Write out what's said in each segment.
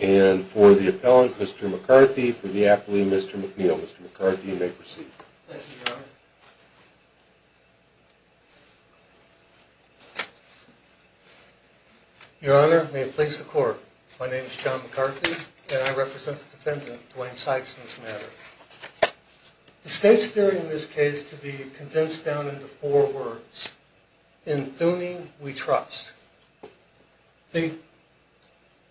and for the appellant, Mr. McCarthy, for the appellee, Mr. McNeil. Mr. McCarthy, you may proceed. Thank you, Your Honor. Your Honor, may it please the Court, my name is John McCarthy, and I represent the defendant, Dwayne Sykes, in this matter. The State's theory in this case can be condensed down into four words. In Thuny, we trust. They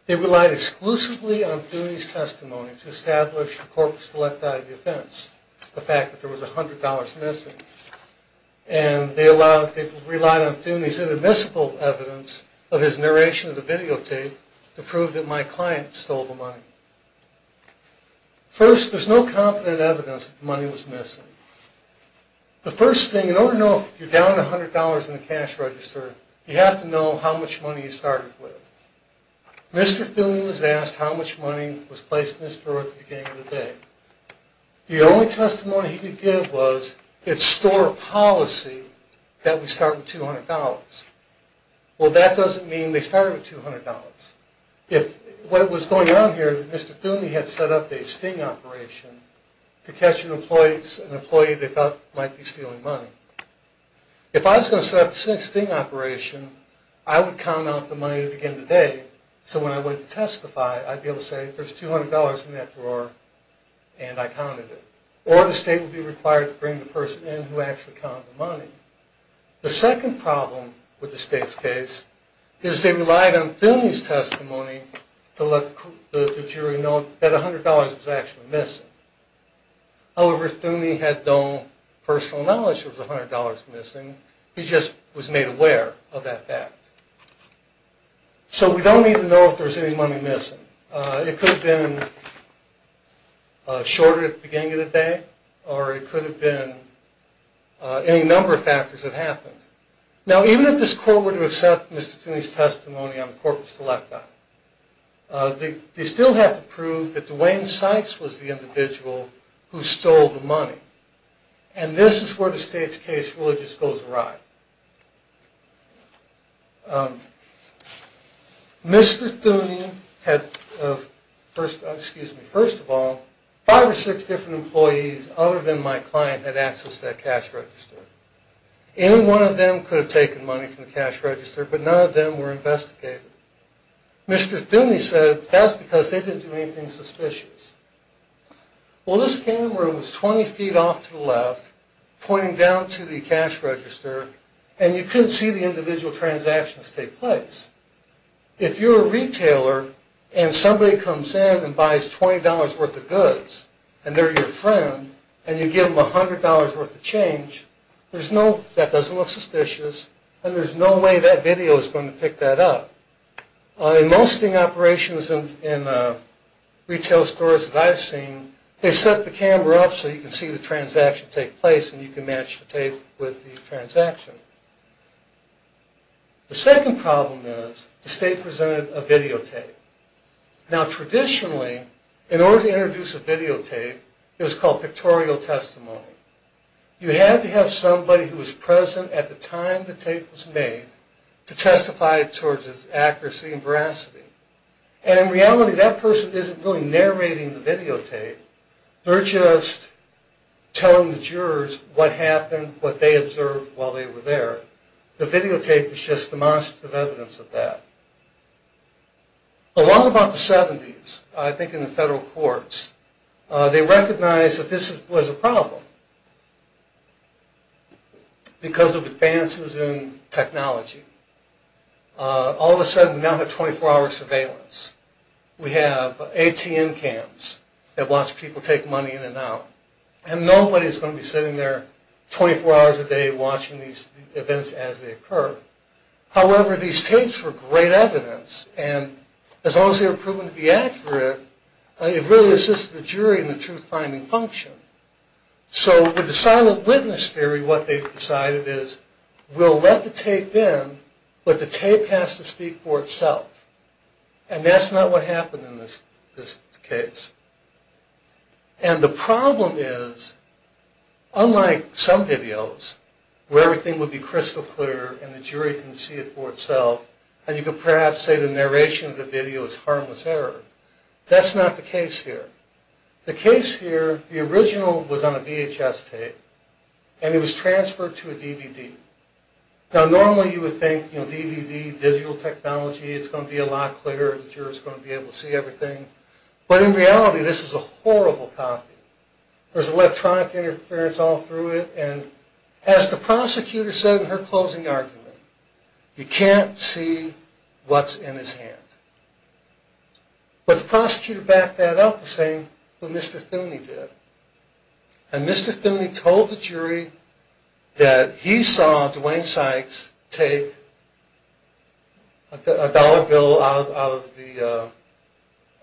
relied exclusively on Thuny's testimony to establish a corpus delicti defense, the fact that there was $100 missing. And they relied on Thuny's inadmissible evidence of his narration of the videotape to prove that my client stole the money. First, there's no confident evidence that the money was missing. The first thing, in order to know if you're down $100 in the cash register, you have to know how much money you started with. Mr. Thuny was asked how much money was placed in his drawer at the beginning of the day. The only testimony he could give was, it's store policy that we start with $200. Well, that doesn't mean they started with $200. What was going on here is that Mr. Thuny had set up a sting operation to catch an employee they thought might be stealing money. If I was going to set up a sting operation, I would count out the money at the beginning of the day, so when I went to testify, I'd be able to say, there's $200 in that drawer, and I counted it. Or the State would be required to bring the person in who actually counted the money. The second problem with the State's case is they relied on Thuny's testimony to let the jury know that $100 was actually missing. However, Thuny had no personal knowledge that there was $100 missing. He just was made aware of that fact. So we don't even know if there's any money missing. It could have been shorter at the beginning of the day, or it could have been any number of factors that happened. Now, even if this Court were to accept Mr. Thuny's testimony on corpus telecti, they still have to prove that Duane Sykes was the individual who stole the money. And this is where the State's case really just goes awry. Mr. Thuny had, first of all, five or six different employees other than my client had access to that cash register. Any one of them could have taken money from the cash register, but none of them were investigated. Mr. Thuny said that's because they didn't do anything suspicious. Well, this camera was 20 feet off to the left, pointing down to the cash register, and you couldn't see the individual transactions take place. If you're a retailer and somebody comes in and buys $20 worth of goods, and they're your friend, and you give them $100 worth of change, that doesn't look suspicious, and there's no way that video is going to pick that up. In most of the operations in retail stores that I've seen, they set the camera up so you can see the transaction take place and you can match the tape with the transaction. The second problem is the State presented a videotape. Now traditionally, in order to introduce a videotape, it was called pictorial testimony. You had to have somebody who was present at the time the tape was made to testify towards its accuracy and veracity. And in reality, that person isn't really narrating the videotape. They're just telling the jurors what happened, what they observed while they were there. The videotape is just demonstrative evidence of that. Along about the 70s, I think in the federal courts, they recognized that this was a problem because of advances in technology. All of a sudden, we now have 24-hour surveillance. We have ATN cams that watch people take money in and out, and nobody is going to be sitting there 24 hours a day watching these events as they occur. However, these tapes were great evidence, and as long as they were proven to be accurate, it really assisted the jury in the truth-finding function. So with the silent witness theory, what they've decided is, we'll let the tape in, but the tape has to speak for itself. And that's not what happened in this case. And the problem is, unlike some videos, where everything would be crystal clear and the jury can see it for itself, and you could perhaps say the narration of the video is harmless error, that's not the case here. The case here, the original was on a VHS tape, and it was transferred to a DVD. Now normally you would think, you know, DVD, digital technology, it's going to be a lot clearer, the jury is going to be able to see everything. But in reality, this is a horrible copy. There's electronic interference all through it, and as the prosecutor said in her closing argument, you can't see what's in his hand. But the prosecutor backed that up the same way Mr. Thune did. And Mr. Thune told the jury that he saw Dwayne Sykes take a dollar bill out of the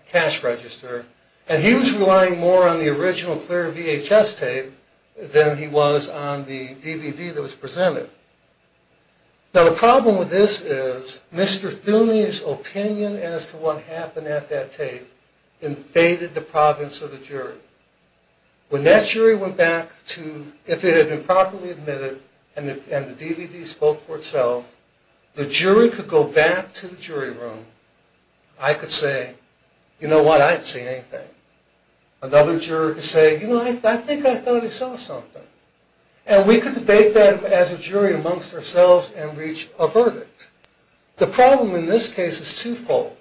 cash register, and he was relying more on the original clear VHS tape than he was on the DVD that was presented. Now the problem with this is Mr. Thune's opinion as to what happened at that tape invaded the province of the jury. When that jury went back to, if it had been properly admitted, and the DVD spoke for itself, the jury could go back to the jury room, I could say, you know what, I didn't see anything. Another juror could say, you know, I think I thought I saw something. And we could debate that as a jury amongst ourselves and reach a verdict. The problem in this case is twofold.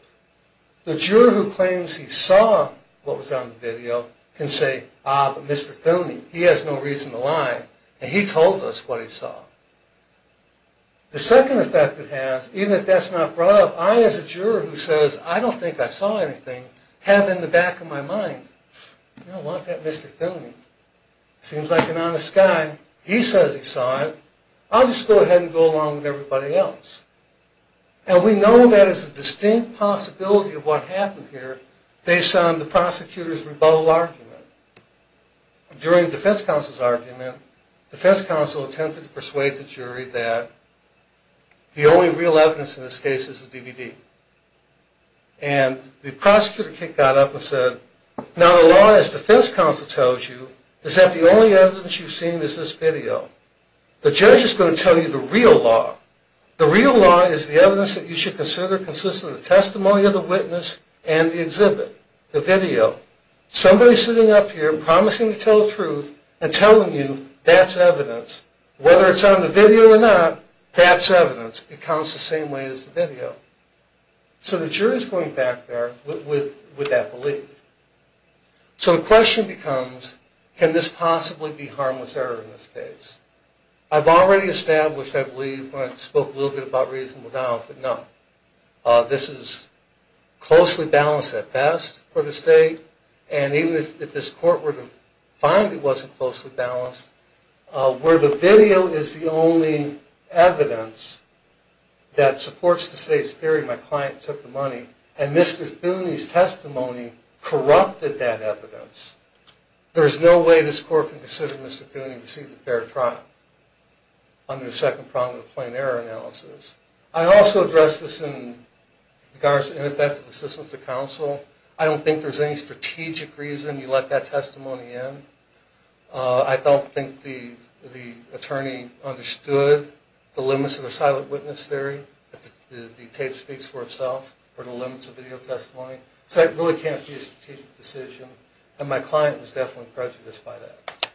The juror who claims he saw what was on the video can say, ah, but Mr. Thune, he has no reason to lie, and he told us what he saw. The second effect it has, even if that's not brought up, I as a juror who says, I don't think I saw anything, have in the back of my mind, I don't want that Mr. Thune. Seems like an honest guy. He says he saw it. I'll just go ahead and go along with everybody else. And we know that is a distinct possibility of what happened here based on the prosecutor's rebuttal argument. During the defense counsel's argument, defense counsel attempted to persuade the jury that the only real evidence in this case is the DVD. And the prosecutor kicked that up and said, now the law, as defense counsel tells you, is that the only evidence you've seen is this video. The judge is going to tell you the real law. The real law is the evidence that you should consider consists of the testimony of the witness and the exhibit, the video. Somebody's sitting up here promising to tell the truth and telling you that's evidence. Whether it's on the video or not, that's evidence. It counts the same way as the video. So the jury's going back there with that belief. So the question becomes, can this possibly be harmless error in this case? I've already established, I believe, when I spoke a little bit about reasonable doubt, that no, this is closely balanced at best for the state, and even if this court were to find it wasn't closely balanced, where the video is the only evidence that supports the state's theory, my client took the money, and Mr. Thuney's testimony corrupted that evidence, there's no way this court can consider Mr. Thuney received a fair trial under the second problem of the plain error analysis. I also addressed this in regards to ineffective assistance to counsel. I don't think there's any strategic reason you let that testimony in. I don't think the attorney understood the limits of the silent witness theory, that the tape speaks for itself, or the limits of video testimony. So it really can't be a strategic decision, and my client was definitely prejudiced by that.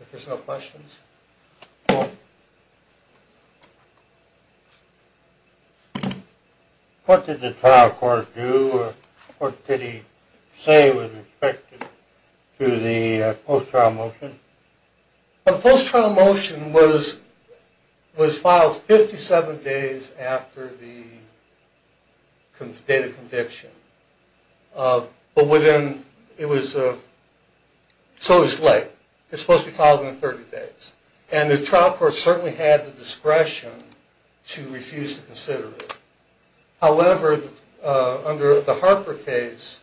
If there's no questions? What did the trial court do, or what did he say was expected to the post-trial motion? The post-trial motion was filed 57 days after the date of conviction. But within, it was, so it was late. It's supposed to be filed within 30 days. And the trial court certainly had the discretion to refuse to consider it. However, under the Harper case,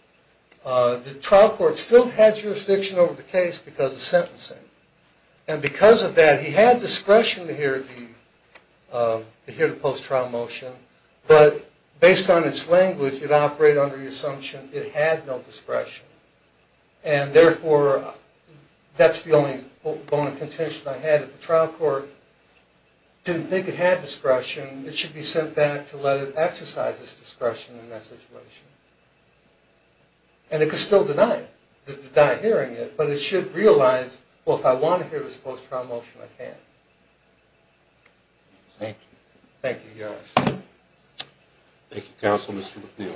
the trial court still had jurisdiction over the case because of sentencing. And because of that, he had discretion to hear the post-trial motion, but based on its language, it operated under the assumption it had no discretion. And therefore, that's the only bone of contention I had. If the trial court didn't think it had discretion, it should be sent back to let it exercise its discretion in that situation. And it could still deny it, deny hearing it, but it should realize, well, if I want to hear this post-trial motion, I can. Thank you. Thank you, Your Honor. Thank you, Counsel, Mr. McNeil.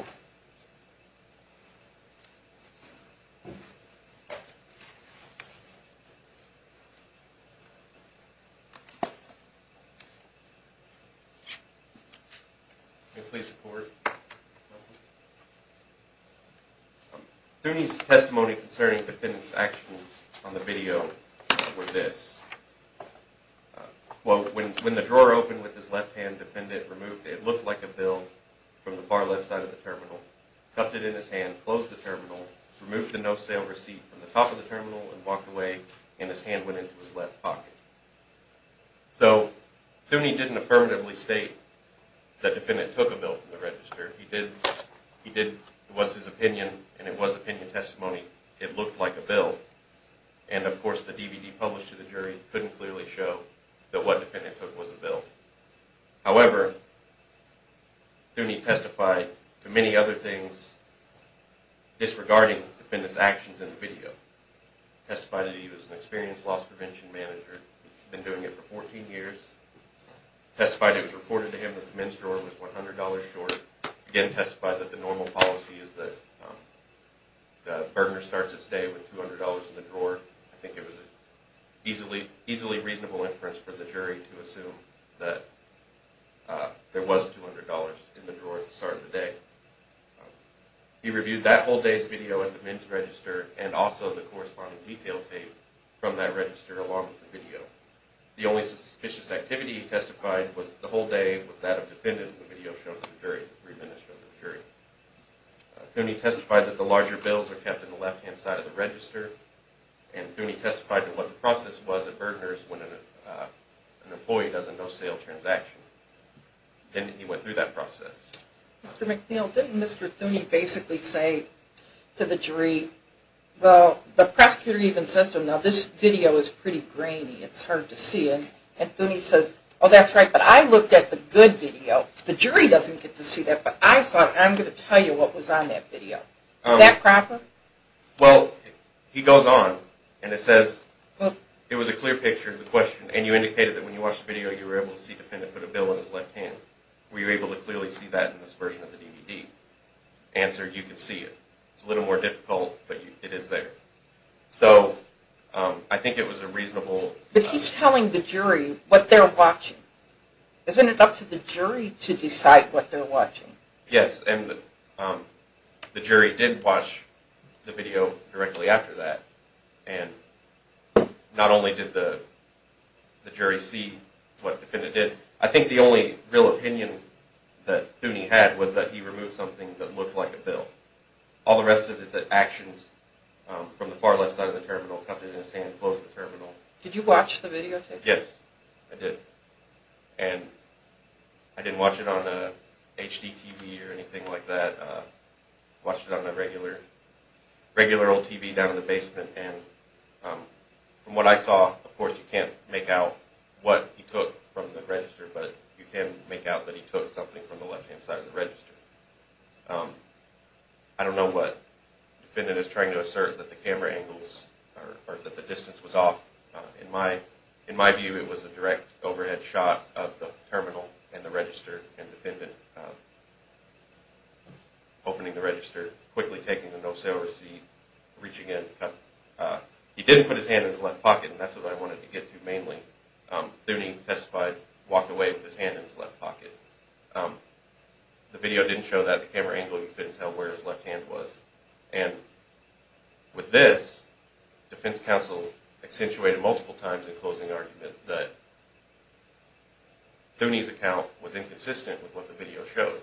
Thune's testimony concerning defendant's actions on the video were this. Quote, when the drawer opened with his left hand, defendant removed what looked like a bill from the far left side of the terminal, tucked it in his hand, closed the terminal, removed the no-sale receipt from the top of the terminal, and walked away, and his hand went into his left pocket. So Thune didn't affirmatively state that defendant took a bill from the register. He did, it was his opinion, and it was opinion testimony. It looked like a bill. And, of course, the DVD published to the jury couldn't clearly show that what defendant took was a bill. However, Thune testified to many other things disregarding defendant's actions in the video. Testified that he was an experienced loss prevention manager, been doing it for 14 years. Testified it was reported to him that the men's drawer was $100 short. Again, testified that the normal policy is that I think it was an easily reasonable inference for the jury to assume that there was $200 in the drawer at the start of the day. He reviewed that whole day's video at the men's register, and also the corresponding detail tape from that register along with the video. The only suspicious activity he testified was that the whole day was that of defendant in the video shown to the jury. Thune testified that the larger bills are kept in the left-hand side of the register, and Thune testified that what the process was at Bergener's when an employee does a no-sale transaction. And he went through that process. Mr. McNeil, didn't Mr. Thune basically say to the jury, well, the prosecutor even says to him, now this video is pretty grainy, it's hard to see it. And Thune says, oh, that's right, but I looked at the good video. The jury doesn't get to see that, but I saw it, and I'm going to tell you what was on that video. Is that proper? Well, he goes on, and it says, it was a clear picture of the question, and you indicated that when you watched the video you were able to see the defendant put a bill in his left hand. Were you able to clearly see that in this version of the DVD? Answer, you can see it. It's a little more difficult, but it is there. So I think it was a reasonable... But he's telling the jury what they're watching. Isn't it up to the jury to decide what they're watching? Yes, and the jury did watch the video directly after that, and not only did the jury see what the defendant did, I think the only real opinion that Thune had was that he removed something that looked like a bill. All the rest of it, the actions from the far left side of the terminal, cupped it in his hand and closed the terminal. Did you watch the videotape? Yes, I did. And I didn't watch it on a HD TV or anything like that. I watched it on a regular old TV down in the basement, and from what I saw, of course you can't make out what he took from the register, but you can make out that he took something from the left-hand side of the register. I don't know what the defendant is trying to assert, that the camera angles or that the distance was off. In my view, it was a direct overhead shot of the terminal and the register, and the defendant opening the register, quickly taking the no-sail receipt, reaching in. He didn't put his hand in his left pocket, and that's what I wanted to get to mainly. Thune testified, walked away with his hand in his left pocket. The video didn't show that. The camera angle, you couldn't tell where his left hand was. And with this, defense counsel accentuated multiple times in closing argument that Thune's account was inconsistent with what the video showed.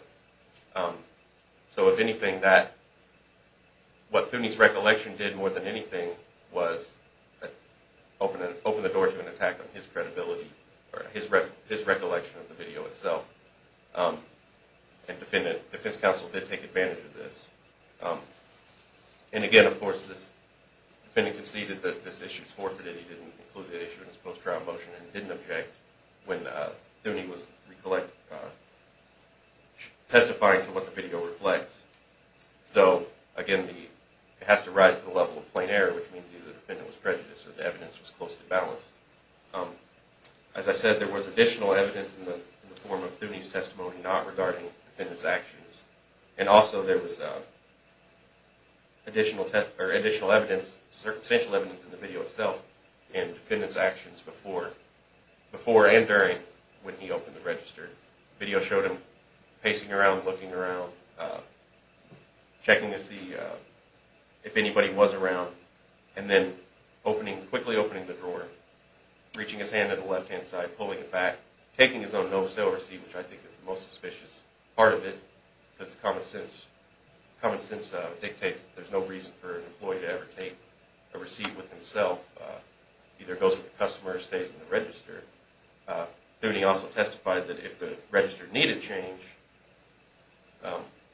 So if anything, what Thune's recollection did more than anything was open the door to an attack on his credibility, or his recollection of the video itself. And defense counsel did take advantage of this. And again, of course, the defendant conceded that this issue was forfeited. He didn't include the issue in his post-trial motion, and didn't object when Thune was testifying to what the video reflects. So again, it has to rise to the level of plain error, which means either the defendant was prejudiced or the evidence was closely balanced. As I said, there was additional evidence in the form of Thune's testimony, not regarding the defendant's actions. And also there was additional evidence, circumstantial evidence in the video itself, in the defendant's actions before and during when he opened the register. The video showed him pacing around, looking around, checking to see if anybody was around, and then quickly opening the drawer, reaching his hand to the left-hand side, pulling it back, taking his own no-show receipt, which I think is the most suspicious part of it, because common sense dictates that there's no reason for an employee to ever take a receipt with himself. It either goes with the customer or stays in the register. Thune also testified that if the register needed change,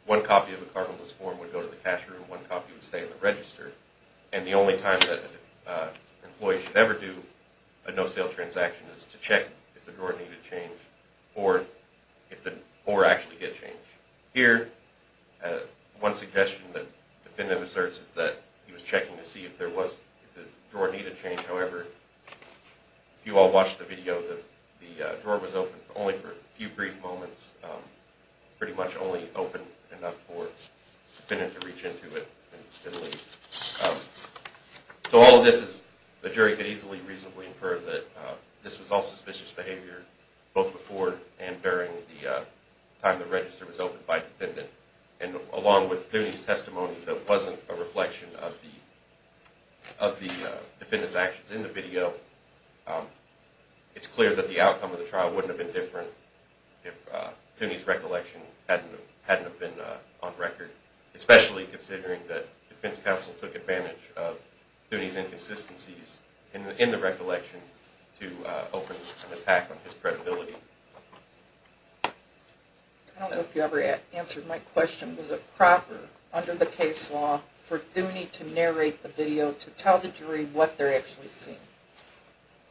one copy of the carbonless form would go to the cashier and one copy would stay in the register. And the only time that an employee should ever do a no-sale transaction is to check if the drawer needed change or if the drawer actually did change. Here, one suggestion that the defendant asserts is that he was checking to see if the drawer needed change. However, if you all watched the video, the drawer was open only for a few brief moments, pretty much only open enough for the defendant to reach into it and leave. So all of this is, the jury could easily reasonably infer that this was all suspicious behavior, both before and during the time the register was opened by the defendant. And along with Thune's testimony that wasn't a reflection of the defendant's actions in the video, it's clear that the outcome of the trial wouldn't have been different if Thune's recollection hadn't have been on record, especially considering that defense counsel took advantage of Thune's inconsistencies in the recollection to open an attack on his credibility. I don't know if you ever answered my question. Was it proper under the case law for Thune to narrate the video to tell the jury what they're actually seeing?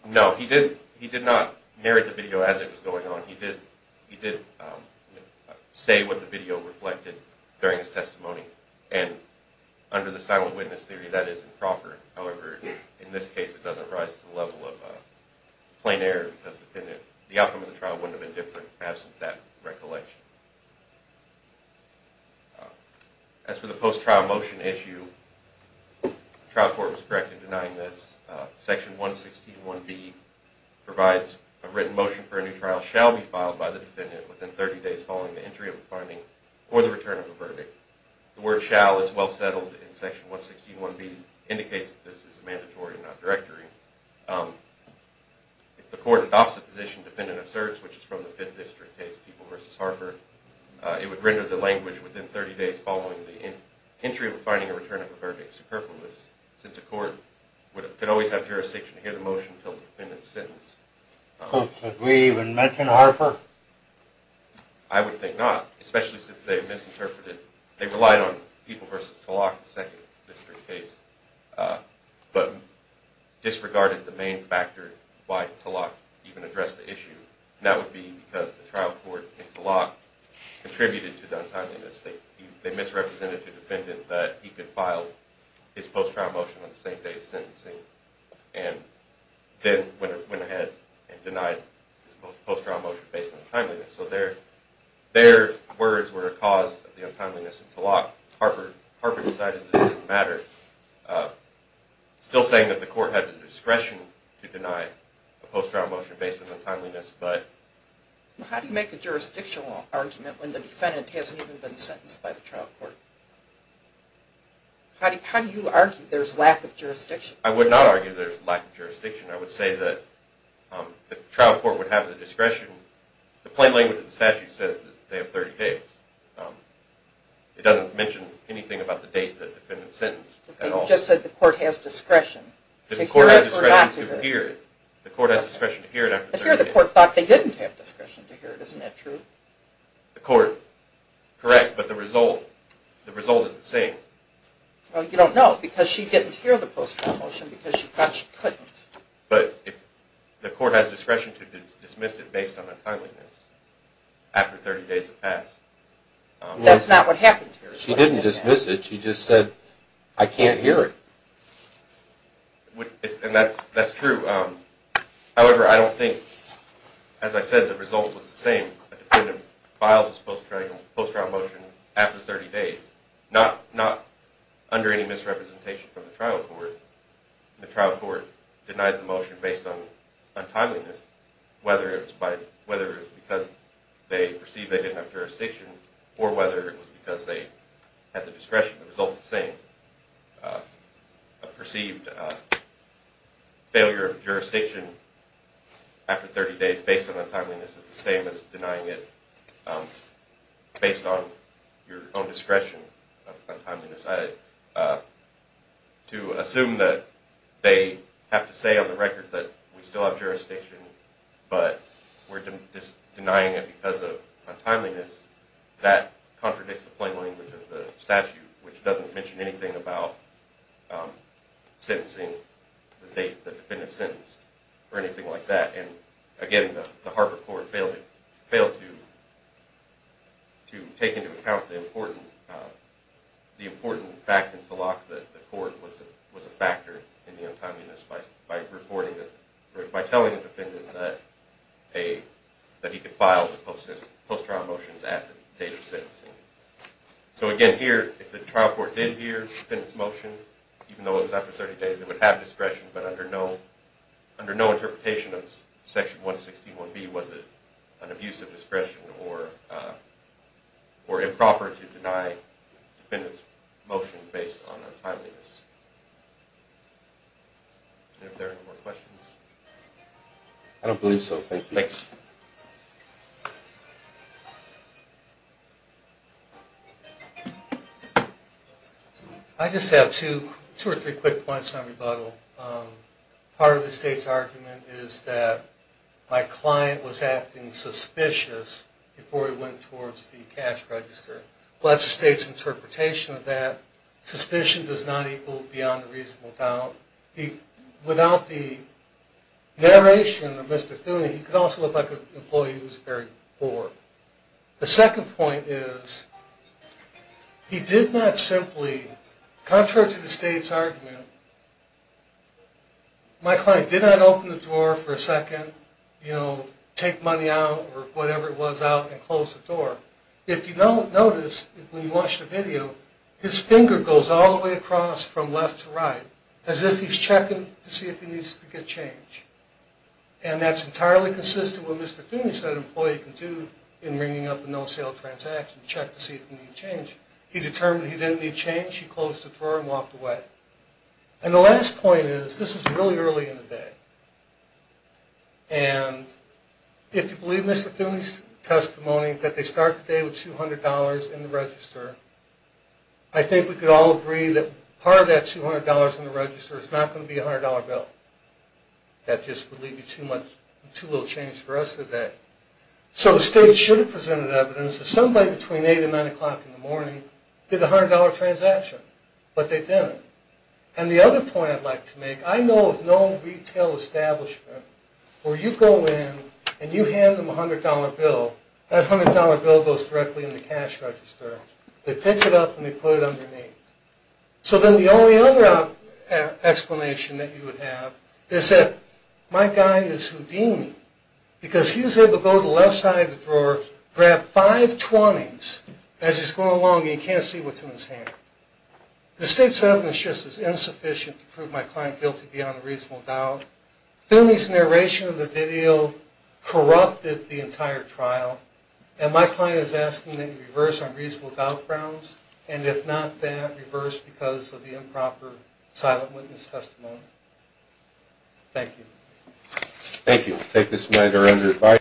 No, he did not narrate the video as it was going on. He did say what the video reflected during his testimony. And under the silent witness theory, that is improper. However, in this case it doesn't rise to the level of plain error because the outcome of the trial wouldn't have been different absent that recollection. As for the post-trial motion issue, the trial court was correct in denying this. Section 161B provides a written motion for a new trial shall be filed by the defendant within 30 days following the entry of a finding or the return of a verdict. The word shall is well settled in section 161B indicates that this is a mandatory and not directory. If the court adopts the position defendant asserts, which is from the Fifth District case, People v. Harper, it would render the language within 30 days following the entry of a finding or return of a verdict superfluous since a court could always have jurisdiction to hear the motion until the defendant's sentence. So should we even mention Harper? I would think not, especially since they misinterpreted they relied on People v. Tulloch, the Second District case but disregarded the main factor why Tulloch even addressed the issue and that would be because the trial court and Tulloch contributed to the untimely mistake. They misrepresented to the defendant that he could file his post-trial motion on the same day as sentencing and then went ahead and denied his post-trial motion based on untimeliness. Their words were a cause of the untimeliness of Tulloch. Harper decided this didn't matter. Still saying that the court had the discretion to deny a post-trial motion based on untimeliness. How do you make a jurisdictional argument when the defendant hasn't even been sentenced by the trial court? How do you argue there's lack of jurisdiction? I would not argue there's lack of jurisdiction. I would say that the trial court would have the discretion the plain language of the statute says they have 30 days. It doesn't mention anything about the date the defendant sentenced at all. You just said the court has discretion to hear it or not to hear it. The court has discretion to hear it after 30 days. But here the court thought they didn't have discretion to hear it. Isn't that true? The court, correct, but the result is the same. You don't know because she didn't hear the post-trial motion because she thought she couldn't. But the court has discretion to dismiss it based on untimeliness after 30 days has passed. That's not what happened here. She didn't dismiss it, she just said, I can't hear it. And that's true. However, I don't think, as I said, the result was the same. The defendant files his post-trial motion after 30 days. Not under any misrepresentation from the trial court. The trial court denies the motion based on untimeliness whether it was because they perceived they didn't have jurisdiction or whether it was because they had the discretion. The result is the same. A perceived failure of jurisdiction after 30 days based on untimeliness is the same as denying it based on your own discretion of untimeliness. To assume that they have to say on the record that we still have jurisdiction but we're denying it because of untimeliness that contradicts the plain language of the statute which doesn't mention anything about sentencing the defendant's sentence or anything like that. Again, the Harper court failed to take into account the important factor to lock the court was a factor in the untimeliness by telling the defendant that he could file post-trial motions at the date of sentencing. So again here, if the trial court did hear the defendant's motion, even though it was after 30 days the defendant would have discretion but under no interpretation of section 161B was it an abuse of discretion or improper to deny the defendant's motion based on untimeliness. Are there any more questions? I don't believe so. Thank you. I just have two or three quick points on rebuttal. Part of the state's argument is that my client was acting suspicious before he went towards the cash register. That's the state's interpretation of that. Suspicion does not equal beyond a reasonable doubt. Without the narration of Mr. Thune he could also look like an employee who is very poor. The second point is he did not simply contrary to the state's argument my client did not open the door for a second take money out or whatever it was out and close the door. If you notice when you watch the video his finger goes all the way across from left to right as if he's checking to see if he needs to get change. And that's entirely consistent with what Mr. Thune said an employee can do in ringing up a no-sale transaction to check to see if they need change. He determined he didn't need change, he closed the door and walked away. And the last point is, this is really early in the day and if you believe Mr. Thune's testimony that they start the day with $200 in the register I think we could all agree that part of that $200 in the register is not going to be a $100 bill. That just would leave you too little change for the rest of the day. So the state should have presented evidence that somebody between 8 and 9 o'clock in the morning did a $100 transaction, but they didn't. And the other point I'd like to make I know of no retail establishment where you go in and you hand them a $100 bill that $100 bill goes directly in the cash register. They pick it up and they put it underneath. So then the only other explanation that you would have is that my guy is Houdini because he was able to go to the left side of the drawer grab five 20s as he's going along and he can't see what's in his hand. The state's evidence is just as insufficient to prove my client guilty beyond a reasonable doubt. Thune's narration of the video corrupted the entire trial and my client is asking that you reverse on reasonable doubt grounds and if not that, reverse because of the improper silent witness testimony. Thank you.